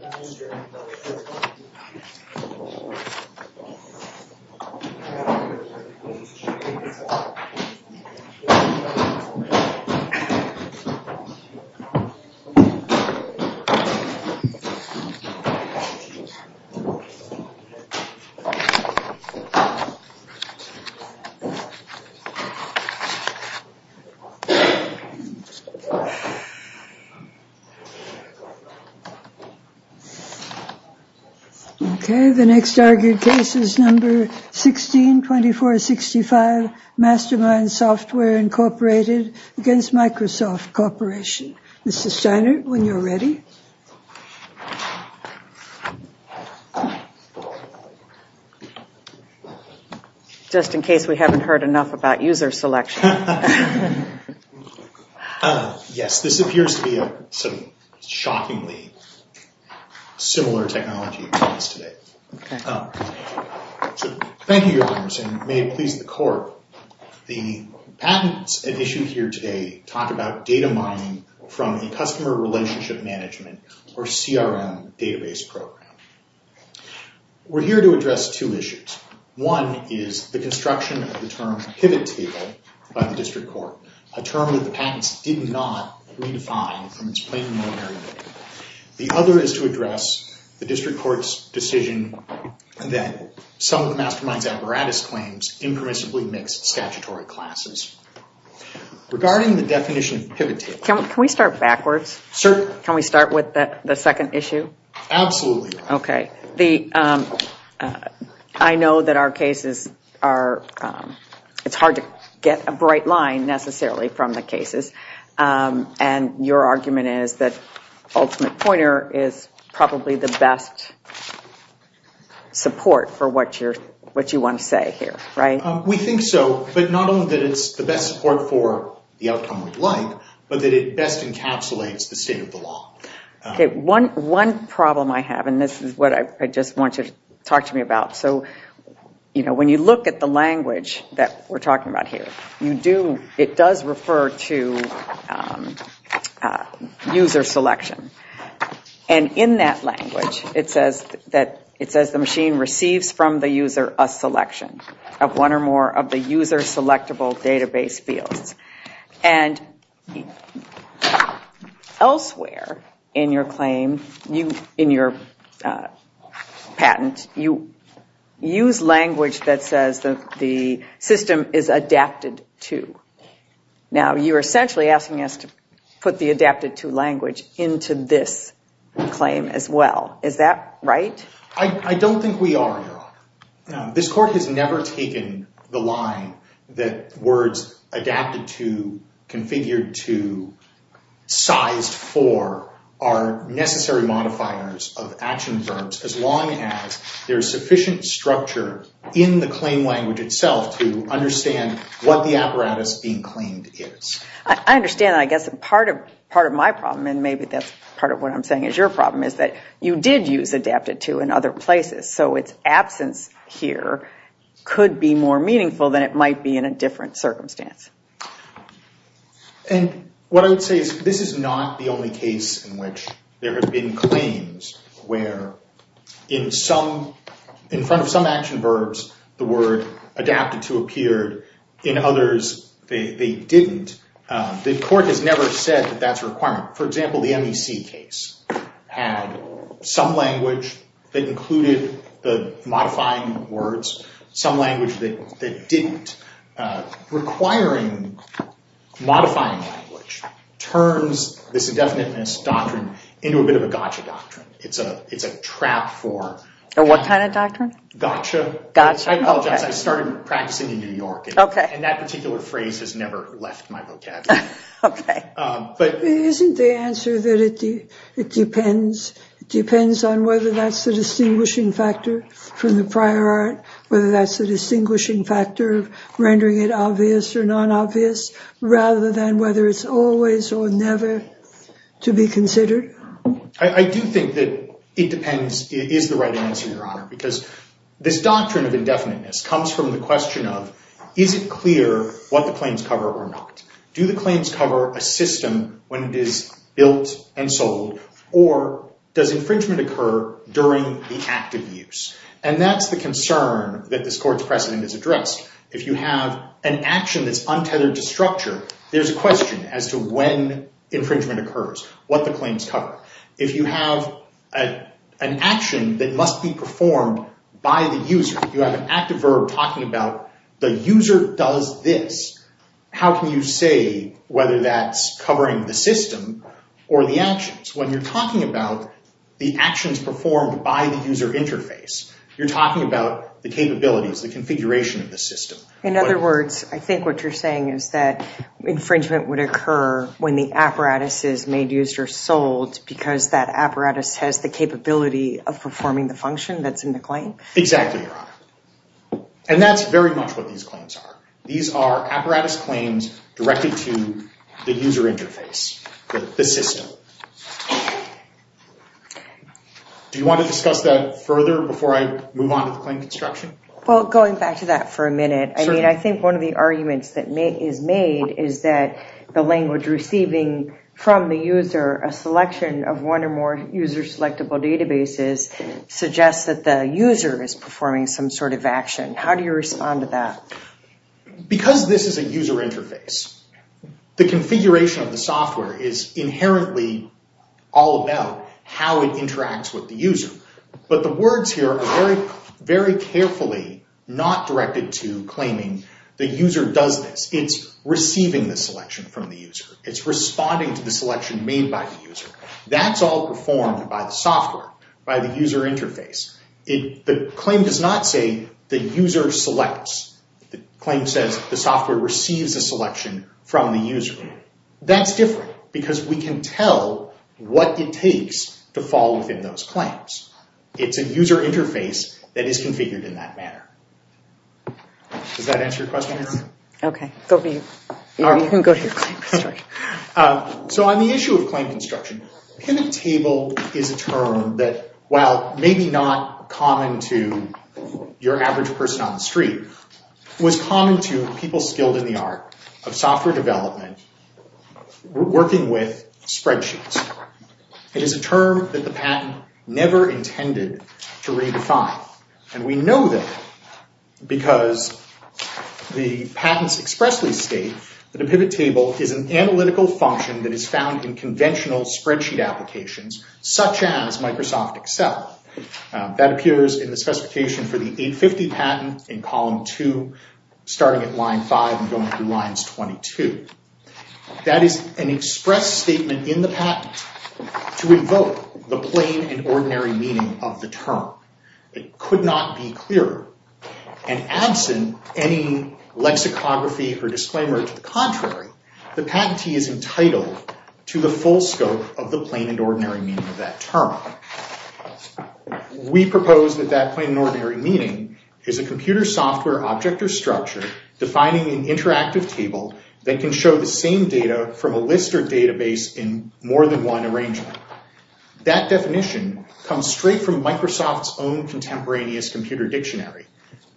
Microsoft Office Word Version Title Microsoft Office Word Document MSWordDoc Word.Document.8 Okay, the next argued case is number 16, 2465, MasterMind Software, Inc. v. Microsoft Corporation. Mr. Steiner, when you're ready. Just in case we haven't heard enough about user selection. Yes, this appears to be a shockingly similar technology to us today. Thank you, Your Honors, and may it please the Court. The patents at issue here today talk about data mining from a Customer Relationship Management, or CRM, database program. We're here to address two issues. One is the construction of the term, Pivot Table, by the District Court. A term that the patents did not redefine from its plain and ordinary nature. The other is to address the District Court's decision that some of the MasterMind's apparatus claims impermissibly mix statutory classes. Regarding the definition of Pivot Table... Can we start backwards? Certainly. Can we start with the second issue? Absolutely. Okay. I know that our cases are... It's hard to get a bright line, necessarily, from the cases. And your argument is that Ultimate Pointer is probably the best support for what you want to say here, right? We think so, but not only that it's the best support for the outcome we'd like, but that it best encapsulates the state of the law. One problem I have, and this is what I just want you to talk to me about. When you look at the language that we're talking about here, it does refer to user selection. And in that language, it says the machine receives from the user a selection of one or more of the user-selectable database fields. And elsewhere in your patent, you use language that says the system is adapted to. Now, you're essentially asking us to put the adapted to language into this claim as well. Is that right? I don't think we are, Your Honor. This Court has never taken the line that words adapted to, configured to, sized for are necessary modifiers of action verbs, as long as there is sufficient structure in the claim language itself to understand what the apparatus being claimed is. I understand that. I guess part of my problem, and maybe that's part of what I'm saying is your problem, is that you did use adapted to in other places. So its absence here could be more meaningful than it might be in a different circumstance. And what I would say is this is not the only case in which there have been claims where in front of some action verbs, the word adapted to appeared. In others, they didn't. The Court has never said that that's a requirement. For example, the MEC case had some language that included the modifying words, some language that didn't. Requiring modifying language turns this indefiniteness doctrine into a bit of a gotcha doctrine. It's a trap for... What kind of doctrine? Gotcha. Gotcha. I apologize. I started practicing in New York, and that particular phrase has never left my vocabulary. Okay. Isn't the answer that it depends on whether that's the distinguishing factor from the prior art, whether that's the distinguishing factor of rendering it obvious or non-obvious, rather than whether it's always or never to be considered? I do think that it depends, is the right answer, Your Honor, because this doctrine of indefiniteness comes from the question of is it clear what the claims cover or not? Do the claims cover a system when it is built and sold, or does infringement occur during the active use? And that's the concern that this Court's precedent has addressed. If you have an action that's untethered to structure, there's a question as to when infringement occurs, what the claims cover. If you have an action that must be performed by the user, you have an active verb talking about the user does this. How can you say whether that's covering the system or the actions? When you're talking about the actions performed by the user interface, you're talking about the capabilities, the configuration of the system. In other words, I think what you're saying is that infringement would occur when the apparatus is made, used, or sold because that apparatus has the capability of performing the function that's in the claim? Exactly, Your Honor. And that's very much what these claims are. These are apparatus claims directed to the user interface, the system. Do you want to discuss that further before I move on to the claim construction? Well, going back to that for a minute, I mean, I think one of the arguments that is made is that the language receiving from the user, a selection of one or more user-selectable databases suggests that the user is performing some sort of action. How do you respond to that? Because this is a user interface, the configuration of the software is inherently all about how it interacts with the user. But the words here are very carefully not directed to claiming the user does this. It's receiving the selection from the user. It's responding to the selection made by the user. That's all performed by the software, by the user interface. The claim does not say the user selects. The claim says the software receives a selection from the user. That's different because we can tell what it takes to fall within those claims. It's a user interface that is configured in that manner. Does that answer your question, Your Honor? Okay, go for you. You can go to your claim, sorry. So on the issue of claim construction, pivot table is a term that, while maybe not common to your average person on the street, was common to people skilled in the art of software development working with spreadsheets. It is a term that the patent never intended to redefine. And we know that because the patents expressly state that a pivot table is an analytical function that is found in conventional spreadsheet applications, such as Microsoft Excel. That appears in the specification for the 850 patent in column 2, starting at line 5 and going through lines 22. That is an express statement in the patent to invoke the plain and ordinary meaning of the term. It could not be clearer. And absent any lexicography or disclaimer to the contrary, the patentee is entitled to the full scope of the plain and ordinary meaning of that term. We propose that that plain and ordinary meaning is a computer software object or structure defining an interactive table that can show the same data from a list or database in more than one arrangement. That definition comes straight from Microsoft's own contemporaneous computer dictionary.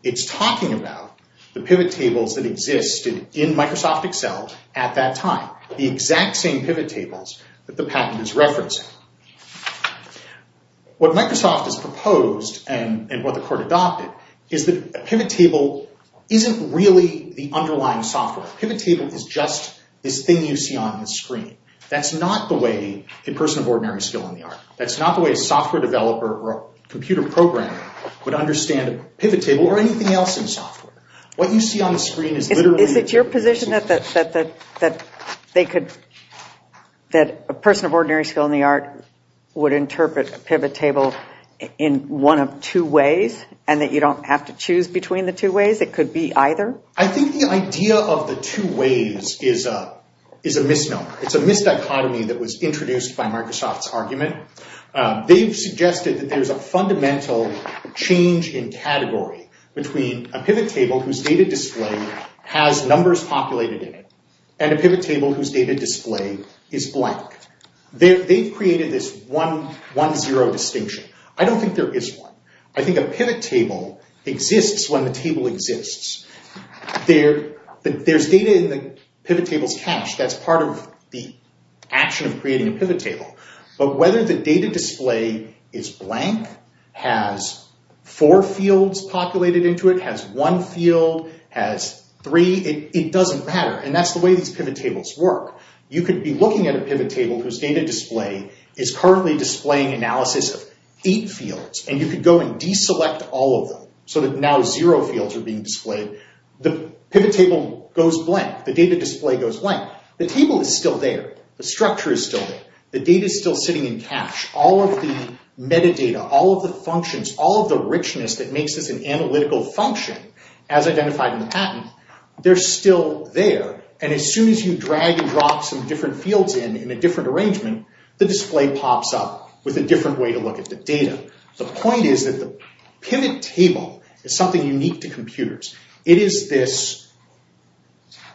It's talking about the pivot tables that existed in Microsoft Excel at that time, the exact same pivot tables that the patent is referencing. What Microsoft has proposed, and what the court adopted, is that a pivot table isn't really the underlying software. A pivot table is just this thing you see on the screen. That's not the way a person of ordinary skill in the art, that's not the way a software developer or a computer programmer would understand a pivot table or anything else in software. What you see on the screen is literally... Is it your position that a person of ordinary skill in the art would interpret a pivot table in one of two ways, and that you don't have to choose between the two ways? It could be either? I think the idea of the two ways is a misnomer. It's a misdichotomy that was introduced by Microsoft's argument. They've suggested that there's a fundamental change in category between a pivot table whose data display has numbers populated in it and a pivot table whose data display is blank. They've created this 1-0 distinction. I don't think there is one. I think a pivot table exists when the table exists. There's data in the pivot table's cache. That's part of the action of creating a pivot table. But whether the data display is blank, has four fields populated into it, has one field, has three, it doesn't matter. And that's the way these pivot tables work. You could be looking at a pivot table whose data display is currently displaying analysis of eight fields, and you could go and deselect all of them so that now zero fields are being displayed. The pivot table goes blank. The data display goes blank. The table is still there. The structure is still there. The data is still sitting in cache. All of the metadata, all of the functions, all of the richness that makes this an analytical function, as identified in the patent, they're still there. And as soon as you drag and drop some different fields in in a different arrangement, the display pops up with a different way to look at the data. So the point is that the pivot table is something unique to computers. It is this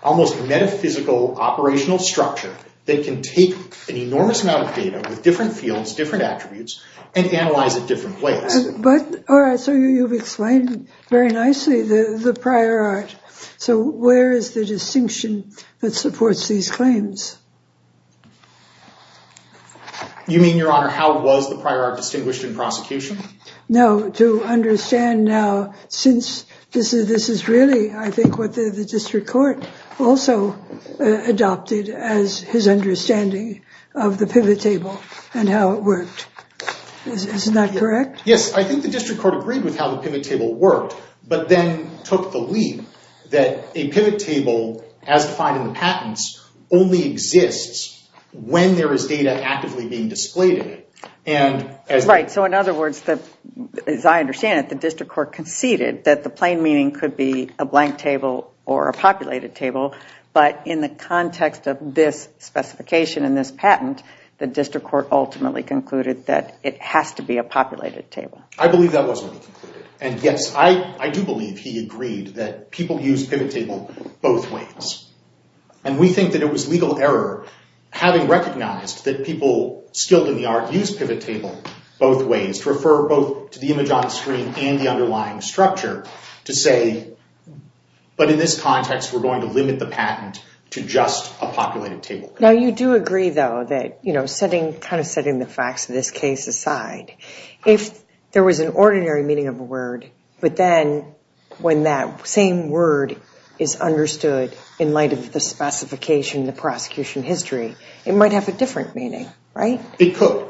almost metaphysical operational structure that can take an enormous amount of data with different fields, different attributes, and analyze it different ways. But, all right, so you've explained very nicely the prior art. So where is the distinction that supports these claims? You mean, Your Honor, how was the prior art distinguished in prosecution? No, to understand now, since this is really, I think, what the district court also adopted as his understanding of the pivot table and how it worked. Isn't that correct? Yes, I think the district court agreed with how the pivot table worked, but then took the leap that a pivot table, as defined in the patents, only exists when there is data actively being displayed in it. Right, so in other words, as I understand it, the district court conceded that the plain meaning could be a blank table or a populated table, but in the context of this specification and this patent, the district court ultimately concluded that it has to be a populated table. I believe that was what he concluded. And, yes, I do believe he agreed that people use pivot table both ways. And we think that it was legal error, having recognized that people skilled in the art use pivot table both ways, to refer both to the image on the screen and the underlying structure, to say, but in this context, we're going to limit the patent to just a populated table. Now, you do agree, though, that, you know, kind of setting the facts of this case aside, if there was an ordinary meaning of a word, but then when that same word is understood in light of the specification, the prosecution history, it might have a different meaning, right? It could,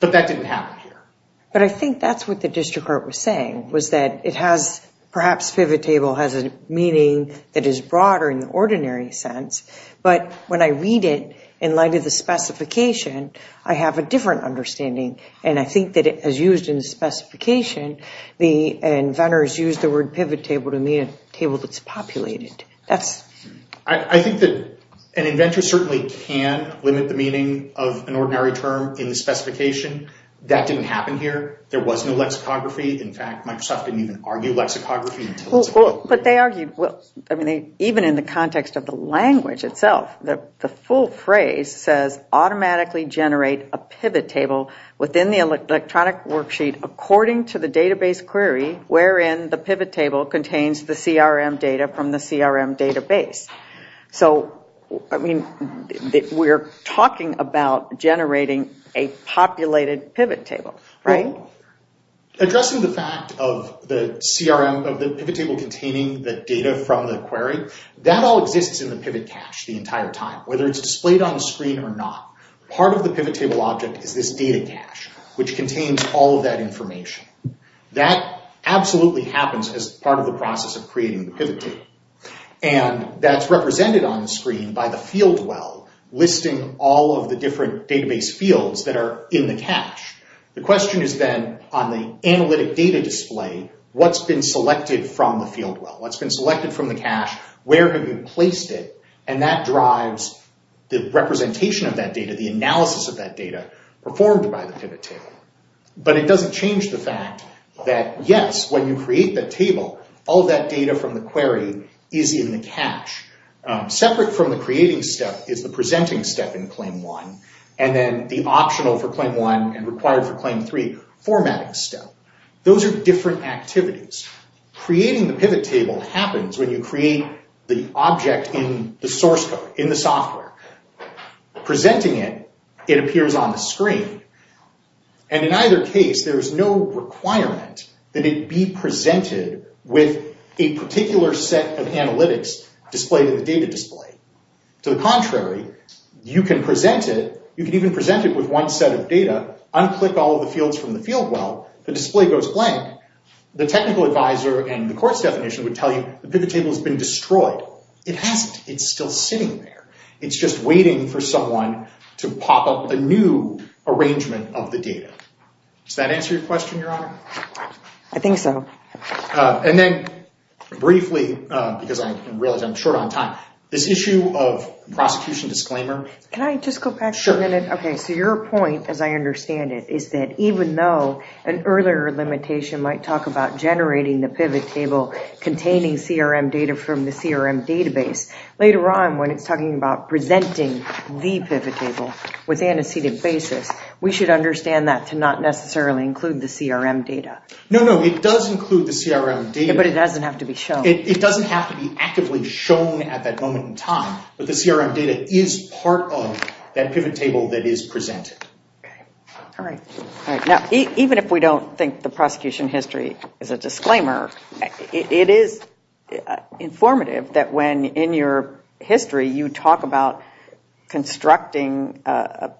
but that didn't happen here. But I think that's what the district court was saying, was that it has, perhaps pivot table has a meaning that is broader in the ordinary sense, but when I read it in light of the specification, I have a different understanding, and I think that as used in the specification, the inventors used the word pivot table to mean a table that's populated. That's... I think that an inventor certainly can limit the meaning of an ordinary term in the specification. That didn't happen here. There was no lexicography. In fact, Microsoft didn't even argue lexicography until... Well, but they argued, well, I mean, even in the context of the language itself, the full phrase says automatically generate a pivot table within the electronic worksheet according to the database query wherein the pivot table contains the CRM data from the CRM database. So, I mean, we're talking about generating a populated pivot table, right? Addressing the fact of the CRM, of the pivot table containing the data from the query, that all exists in the pivot cache the entire time, whether it's displayed on the screen or not. Part of the pivot table object is this data cache, which contains all of that information. That absolutely happens as part of the process of creating the pivot table, and that's represented on the screen by the field well listing all of the different database fields that are in the cache. The question is then, on the analytic data display, what's been selected from the field well? What's been selected from the cache? Where have you placed it? And that drives the representation of that data, the analysis of that data performed by the pivot table. But it doesn't change the fact that, yes, when you create the table, all of that data from the query is in the cache. Separate from the creating step is the presenting step in claim one, and then the optional for claim one and required for claim three formatting step. Those are different activities. Creating the pivot table happens when you create the object in the source code, in the software. Presenting it, it appears on the screen, and in either case there's no requirement that it be presented with a particular set of analytics displayed in the data display. To the contrary, you can present it, you can even present it with one set of data, unclick all of the fields from the field well, the display goes blank. The technical advisor and the court's definition would tell you, the pivot table has been destroyed. It hasn't. It's still sitting there. It's just waiting for someone to pop up a new arrangement of the data. Does that answer your question, Your Honor? I think so. And then briefly, because I realize I'm short on time, this issue of prosecution disclaimer. Can I just go back for a minute? Sure. Okay, so your point, as I understand it, is that even though an earlier limitation might talk about generating the pivot table containing CRM data from the CRM database, later on when it's talking about presenting the pivot table with antecedent basis, we should understand that to not necessarily include the CRM data. No, no, it does include the CRM data. But it doesn't have to be shown. It doesn't have to be actively shown at that moment in time, but the CRM data is part of that pivot table that is presented. All right. Now, even if we don't think the prosecution history is a disclaimer, it is informative that when, in your history, you talk about constructing a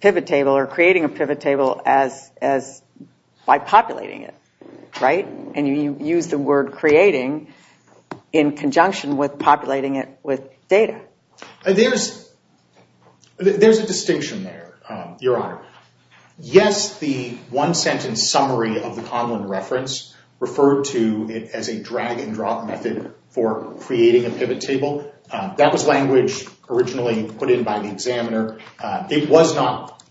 pivot table or creating a pivot table by populating it, right? And you use the word creating in conjunction with populating it with data. There's a distinction there, Your Honor. Yes, the one-sentence summary of the Conlon reference referred to it as a drag-and-drop method for creating a pivot table. That was language originally put in by the examiner. It was not.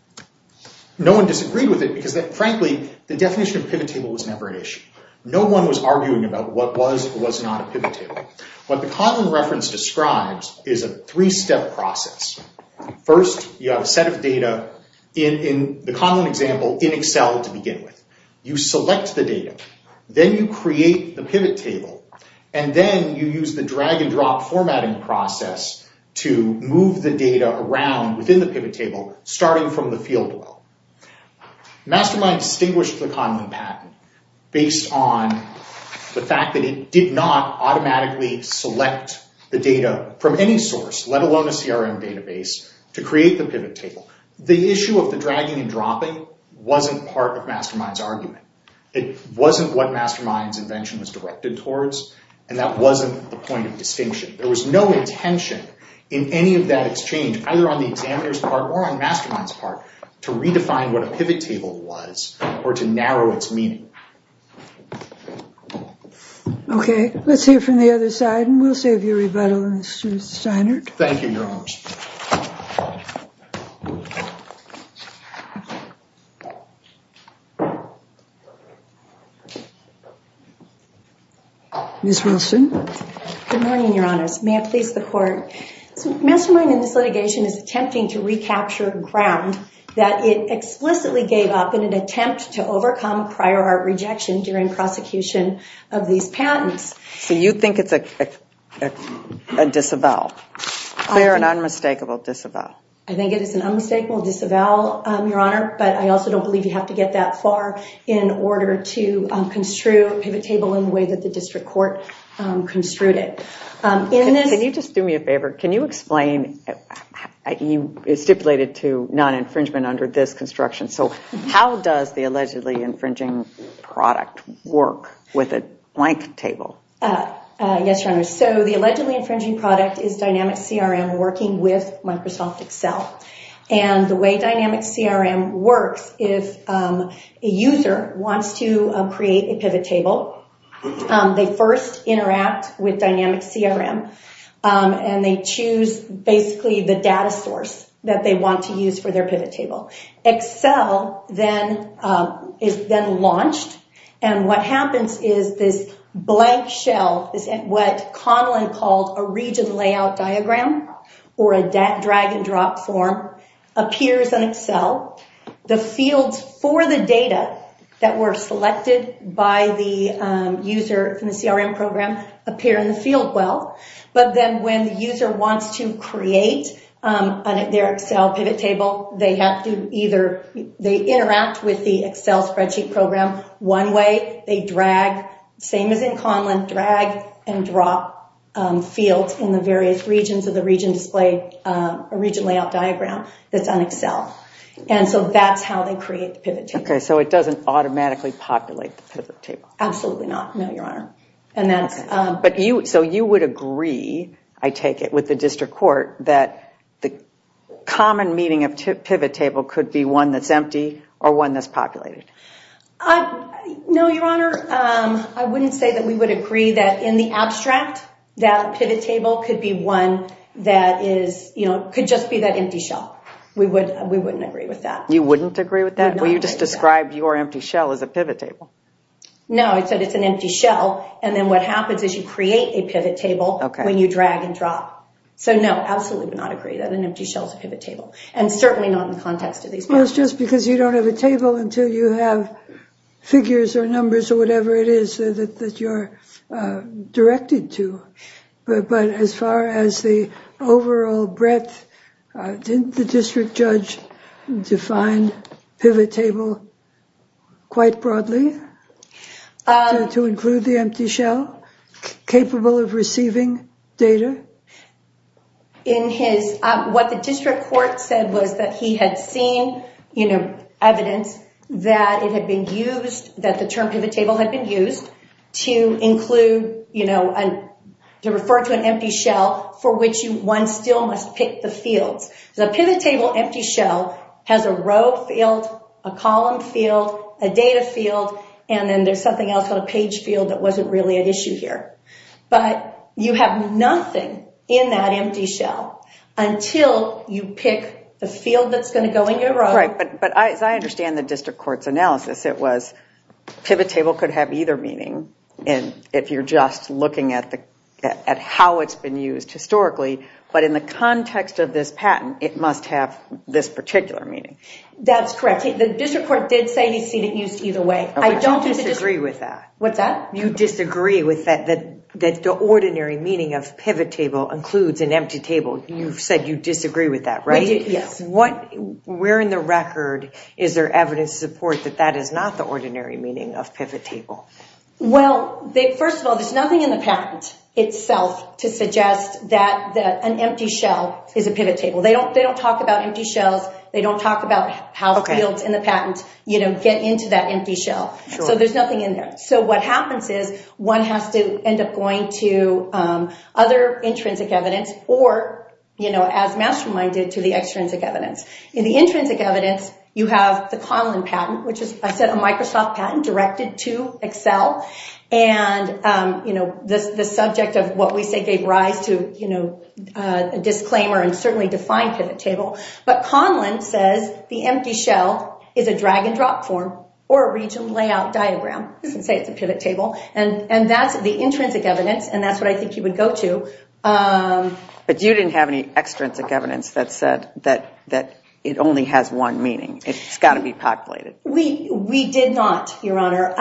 No one disagreed with it because, frankly, the definition of pivot table was never an issue. No one was arguing about what was or was not a pivot table. What the Conlon reference describes is a three-step process. First, you have a set of data, in the Conlon example, in Excel to begin with. You select the data. Then you create the pivot table. And then you use the drag-and-drop formatting process to move the data around within the pivot table, starting from the field level. Mastermind distinguished the Conlon patent based on the fact that it did not automatically select the data from any source, let alone a CRM database, to create the pivot table. The issue of the dragging and dropping wasn't part of Mastermind's argument. It wasn't what Mastermind's invention was directed towards, and that wasn't the point of distinction. There was no intention in any of that exchange, either on the examiner's part or on Mastermind's part, to redefine what a pivot table was or to narrow its meaning. Okay. Let's hear from the other side, and we'll save you a rebuttal, Mr. Steinert. Thank you, Your Honor. Ms. Wilson. Good morning, Your Honors. May it please the Court. Mastermind in this litigation is attempting to recapture ground that it prior art rejection during prosecution of these patents. So you think it's a disavowal, clear and unmistakable disavowal? I think it is an unmistakable disavowal, Your Honor, but I also don't believe you have to get that far in order to construe a pivot table in the way that the district court construed it. Can you just do me a favor? Can you explain, you stipulated to non-infringement under this construction, so how does the allegedly infringing product work with a blank table? Yes, Your Honor. So the allegedly infringing product is Dynamic CRM working with Microsoft Excel, and the way Dynamic CRM works, if a user wants to create a pivot table, they first interact with Dynamic CRM, and they choose basically the data source that they want to use for their pivot table. Excel then is then launched, and what happens is this blank shell, what Conlon called a region layout diagram, or a drag and drop form, appears in Excel. The fields for the data that were selected by the user in the CRM program appear in the field well, but then when the user wants to create their Excel pivot table, they have to either, they interact with the Excel spreadsheet program one way, they drag, same as in Conlon, drag and drop fields in the various regions of the region display, a region layout diagram that's on Excel. And so that's how they create the pivot table. Okay, so it doesn't automatically populate the pivot table. Absolutely not, no, Your Honor. So you would agree, I take it, with the district court, that the common meaning of pivot table could be one that's empty or one that's populated. No, Your Honor, I wouldn't say that we would agree that in the abstract, that pivot table could be one that is, you know, could just be that empty shell. We wouldn't agree with that. You wouldn't agree with that? Well, you just described your empty shell as a pivot table. No, I said it's an empty shell, and then what happens is you create a pivot table when you drag and drop. So no, absolutely would not agree that an empty shell is a pivot table, and certainly not in the context of these. Well, it's just because you don't have a table until you have figures or numbers or whatever it is that you're directed to. But as far as the overall breadth, didn't the district judge define pivot table quite broadly to include the What the district court said was that he had seen, you know, evidence that it had been used, that the term pivot table had been used, to include, you know, to refer to an empty shell for which one still must pick the fields. The pivot table empty shell has a row field, a column field, a data field, and then there's something else on a page field that wasn't really at issue here. But you have nothing in that empty shell until you pick the field that's going to go in your row. Right, but as I understand the district court's analysis, it was pivot table could have either meaning, and if you're just looking at how it's been used historically, but in the context of this patent, it must have this particular meaning. That's correct. The district court did say he'd seen it used either way. I don't disagree with that. What's that? You disagree with that, that the ordinary meaning of pivot table includes an empty table. You've said you disagree with that, right? Yes. Where in the record is there evidence to support that that is not the ordinary meaning of pivot table? Well, first of all, there's nothing in the patent itself to suggest that an empty shell is a pivot table. They don't talk about empty shells. They don't talk about how fields in the patent, you know, get into that empty shell, so there's nothing in there. So what happens is one has to end up going to other intrinsic evidence or, you know, as Mastermind did, to the extrinsic evidence. In the intrinsic evidence, you have the Conlon patent, which is, I said, a Microsoft patent directed to Excel, and, you know, the subject of what we say gave rise to, you know, a disclaimer and certainly defined pivot table, but Conlon says the empty shell is a drag-and-drop form or a region layout diagram. He doesn't say it's a pivot table, and that's the intrinsic evidence, and that's what I think you would go to. But you didn't have any extrinsic evidence that said that it only has one meaning. It's got to be populated. We did not, Your Honor.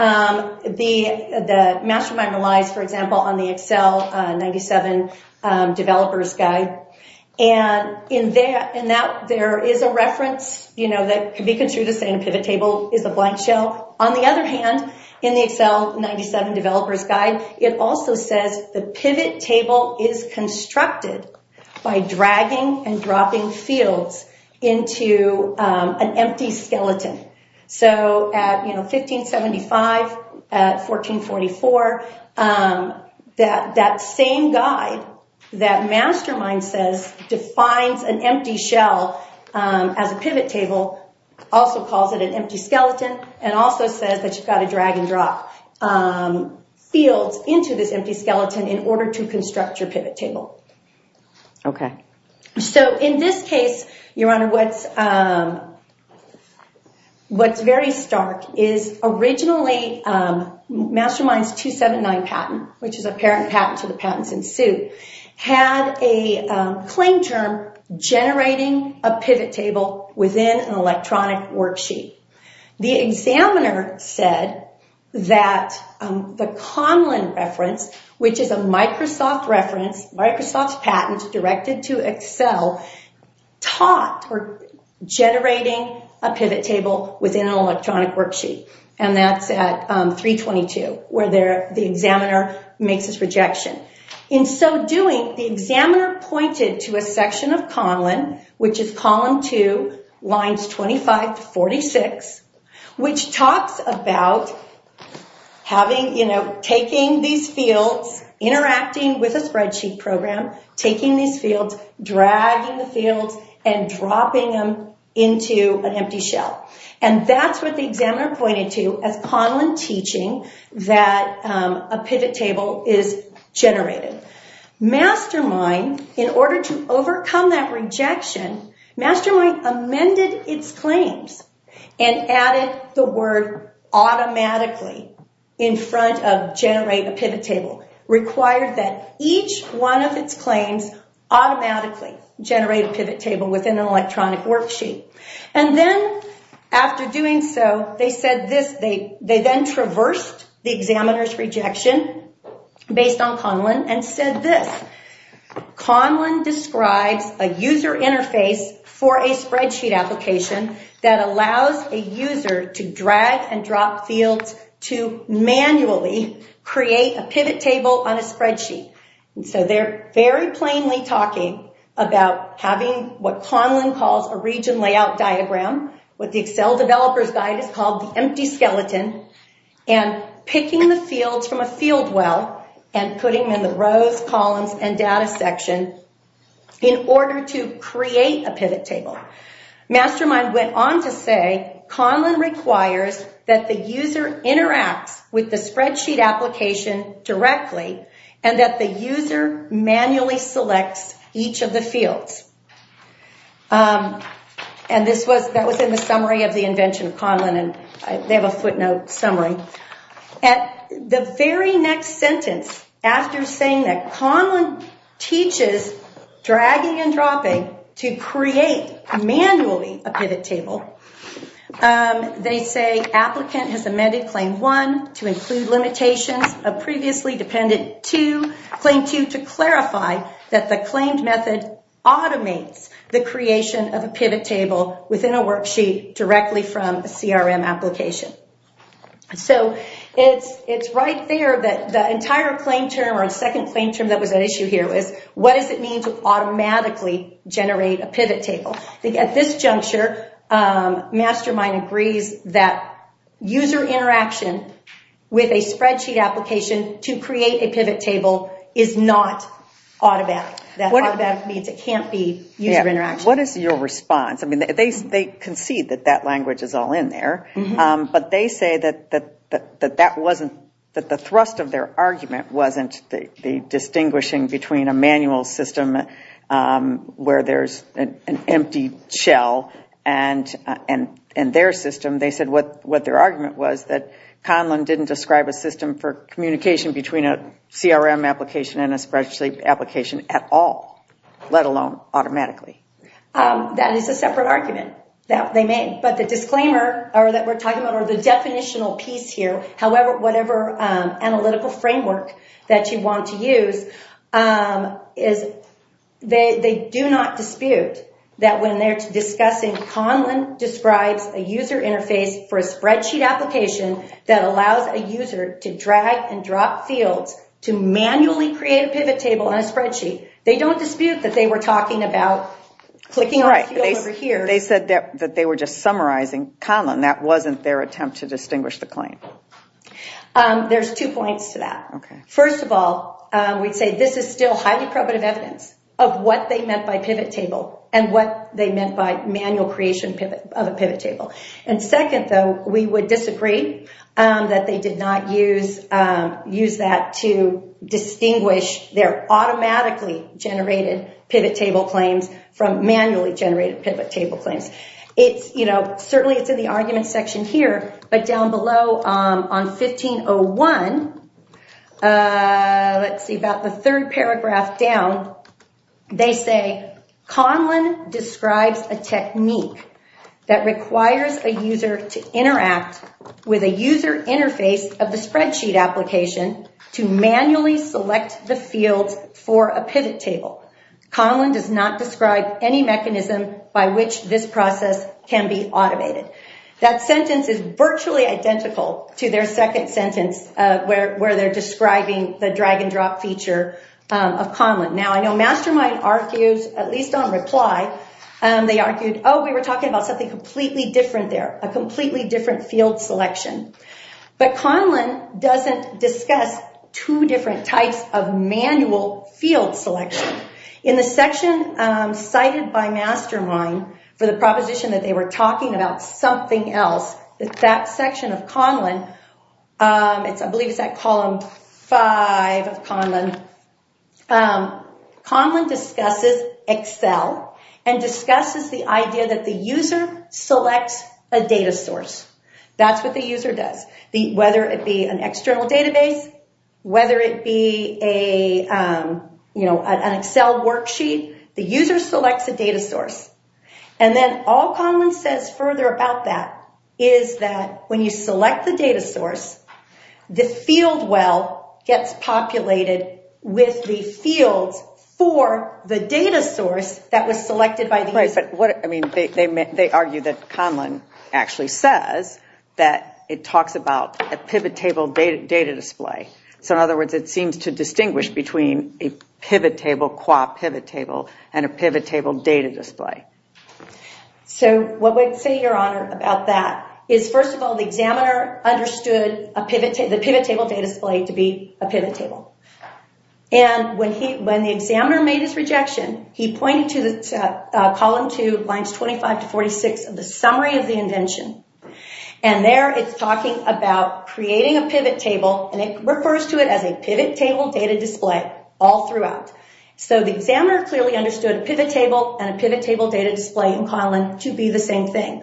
The Mastermind relies, for example, on the Excel 97 developer's guide, and in that there is a reference, you know, that could be construed as saying a pivot table is a blank shell. On the other hand, in the Excel 97 developer's guide, it also says the pivot table is constructed by dragging and dropping fields into an empty skeleton. So at, you know, 1575, at 1444, that same guide that Mastermind says defines an empty shell as a pivot table also calls it an empty skeleton and also says that you've got to drag and drop fields into this empty skeleton in order to construct your pivot table. Okay. So in this case, Your Honor, what's very stark is originally Mastermind's 279 patent, which is a parent patent to the patents in suit, had a claim term generating a pivot table within an electronic worksheet. The examiner said that the Conlon reference, which is a Microsoft reference, Microsoft's patent directed to Excel, taught generating a pivot table within an electronic worksheet, and that's at 322, where the examiner makes his rejection. In so doing, the examiner pointed to a section of Conlon, which is column 2, lines 25 to 46, which talks about having, you know, taking these fields, interacting with a spreadsheet program, taking these fields, dragging the fields, and dropping them into an empty shell. And that's what the examiner pointed to as Conlon teaching that a pivot table is generated. Mastermind, in order to overcome that rejection, Mastermind amended its claims and added the word automatically in front of generate a pivot table, required that each one of its claims automatically generate a pivot table within an electronic worksheet. And then after doing so, they said this. They then traversed the examiner's rejection based on Conlon and said this. Conlon describes a user interface for a spreadsheet application that allows a user to drag and drop fields to manually create a pivot table on a spreadsheet. So they're very plainly talking about having what Conlon calls a region layout diagram, what the Excel developer's guide has called the empty skeleton, and picking the fields from a field well and putting them in the rows, columns, and data section in order to create a pivot table. Mastermind went on to say Conlon requires that the user interacts with the spreadsheet application directly and that the user manually selects each of the fields. And that was in the summary of the invention of Conlon. They have a footnote summary. At the very next sentence, after saying that Conlon teaches dragging and dropping to create manually a pivot table, they say applicant has amended claim one to include limitations of previously dependent two, claim two to clarify that the claimed method automates the creation of a pivot table within a worksheet directly from a CRM application. So it's right there that the entire claim term or second claim term that was at issue here was what does it mean to automatically generate a pivot table? At this juncture, Mastermind agrees that user interaction with a spreadsheet application to create a pivot table is not automatic. That automatic means it can't be user interaction. What is your response? They concede that that language is all in there, but they say that the thrust of their argument wasn't the distinguishing between a manual system where there's an empty shell and their system. They said what their argument was that Conlon didn't describe a system for communication between a CRM application and a spreadsheet application at all, let alone automatically. That is a separate argument that they made, but the disclaimer that we're talking about or the definitional piece here, whatever analytical framework that you want to use, they do not dispute that when they're discussing Conlon describes a user interface for a spreadsheet application that allows a user to drag and drop fields to manually create a pivot table on a spreadsheet. They don't dispute that they were talking about clicking on a field over here. They said that they were just summarizing Conlon. That wasn't their attempt to distinguish the claim. There's two points to that. First of all, we'd say this is still highly probative evidence of what they meant by pivot table and what they meant by manual creation of a pivot table. Second, though, we would disagree that they did not use that to distinguish their automatically generated pivot table claims from manually generated pivot table claims. Certainly, it's in the argument section here, but down below on 1501, let's see, about the third paragraph down, they say, Conlon describes a technique that requires a user to interact with a user interface of the spreadsheet application to manually select the fields for a pivot table. Conlon does not describe any mechanism by which this process can be automated. That sentence is virtually identical to their second sentence where they're describing the drag and drop feature of Conlon. Now, I know Mastermind argues, at least on reply, they argued, oh, we were talking about something completely different there, a completely different field selection. But Conlon doesn't discuss two different types of manual field selection. In the section cited by Mastermind for the proposition that they were talking about something else, that that section of Conlon, I believe it's that column five of Conlon, Conlon discusses Excel and discusses the idea that the user selects a data source. That's what the user does. Whether it be an external database, whether it be an Excel worksheet, the user selects a data source. And then all Conlon says further about that is that when you select the data source, the field well gets populated with the fields for the data source that was selected by the user. They argue that Conlon actually says that it talks about a pivot table data display. So in other words, it seems to distinguish between a pivot table, qua pivot table, and a pivot table data display. So what we'd say, Your Honor, about that is first of all, the examiner understood the pivot table data display to be a pivot table. And when the examiner made his rejection, he pointed to column two, lines 25 to 46 of the summary of the invention. And there it's talking about creating a pivot table, and it refers to it as a pivot table data display all throughout. So the examiner clearly understood a pivot table and a pivot table data display in Conlon to be the same thing.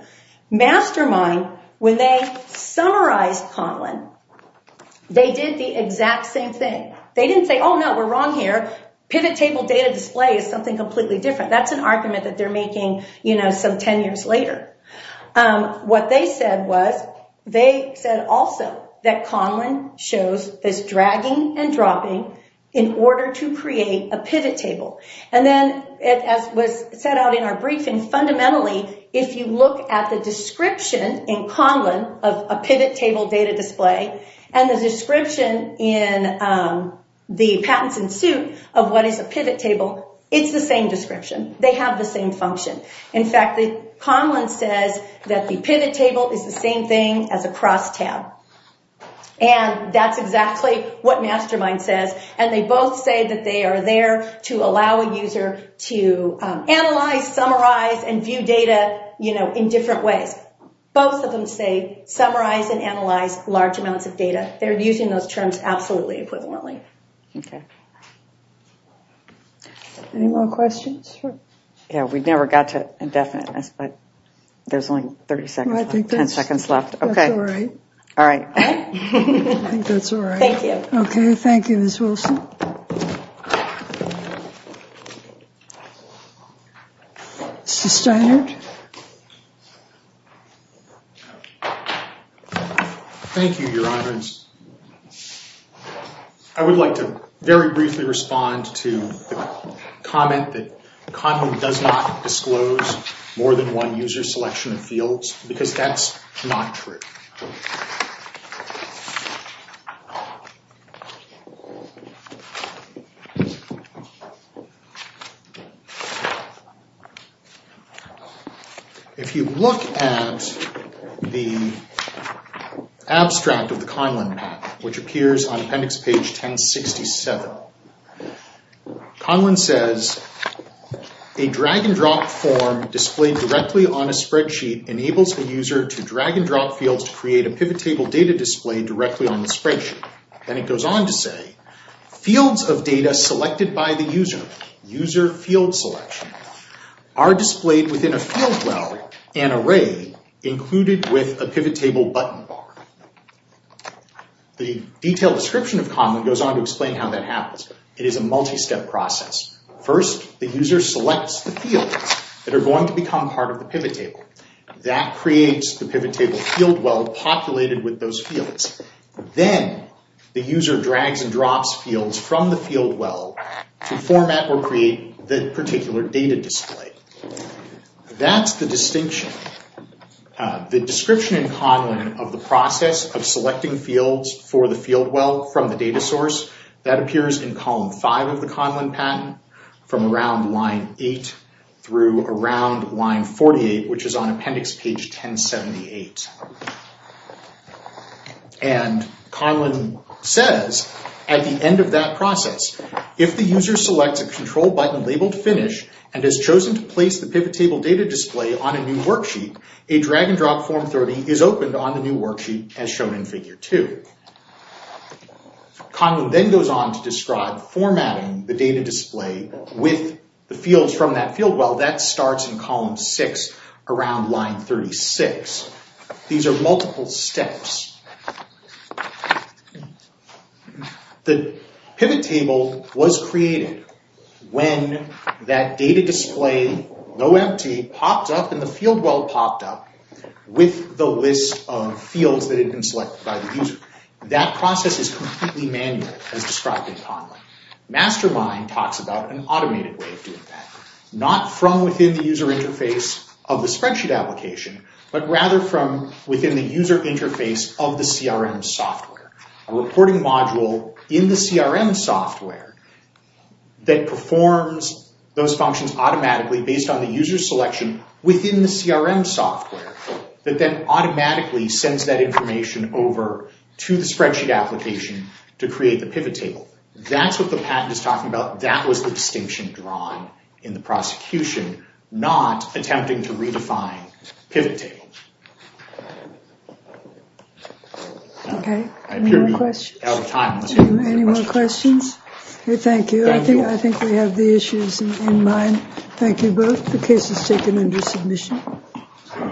Mastermind, when they summarized Conlon, they did the exact same thing. They didn't say, Oh no, we're wrong here. Pivot table data display is something completely different. That's an argument that they're making some 10 years later. What they said was, they said also that Conlon shows this dragging and dropping in order to create a pivot table. And then, as was set out in our briefing, fundamentally, if you look at the description in Conlon of a pivot table data display and the description in the patents in suit of what is a pivot table, it's the same description. They have the same function. In fact, Conlon says that the pivot table is the same thing as a cross tab. And that's exactly what Mastermind says. And they both say that they are there to allow a user to analyze, summarize, and view data in different ways. Both of them say summarize and analyze large amounts of data. They're using those terms absolutely equivalently. Okay. Any more questions? Yeah, we never got to indefiniteness, but there's only 30 seconds, 10 seconds left. That's all right. All right. I think that's all right. Thank you. Okay, thank you Ms. Wilson. Mr. Steinert. Thank you, Your Honor. I would like to very briefly respond to the comment that Conlon does not disclose more than one user selection of fields because that's not true. If you look at the abstract of the Conlon Pack, which appears on appendix page 1067, Conlon says, a drag-and-drop form displayed directly on a spreadsheet enables the user to drag-and-drop fields directly on a spreadsheet. Then it goes on to say, fields of data selected by the user, user field selection, are displayed within a field well and array included with a pivot table button bar. The detailed description of Conlon goes on to explain how that happens. It is a multi-step process. First, the user selects the fields that are going to become part of the pivot table. That creates the pivot table field well populated with those fields. Then, the user drags and drops fields from the field well to format or create the particular data display. That's the distinction. The description in Conlon of the process of selecting fields for the field well from the data source, that appears in column five of the Conlon patent from around line eight through around line 48, which is on appendix page 1078. Conlon says, at the end of that process, if the user selects a control button labeled finish and has chosen to place the pivot table data display on a new worksheet, a drag-and-drop form 30 is opened on the new worksheet as shown in figure two. Conlon then goes on to describe formatting the data display with the fields from that field well. That starts in column six around line 36. These are multiple steps. The pivot table was created when that data display, though empty, popped up and the field well popped up with the list of fields that had been selected by the user. That process is completely manual, as described in Conlon. Mastermind talks about an automated way of doing that, not from within the user interface of the spreadsheet application, but rather from within the user interface of the CRM software. A reporting module in the CRM software that performs those functions automatically based on the user selection within the CRM software that then automatically sends that information over to the spreadsheet application to create the pivot table. That's what the patent is talking about. That was the distinction drawn in the prosecution, not attempting to redefine pivot table. Okay, any more questions? Jim, any more questions? Thank you. I think we have the issues in mind. Thank you both. The case is taken under submission.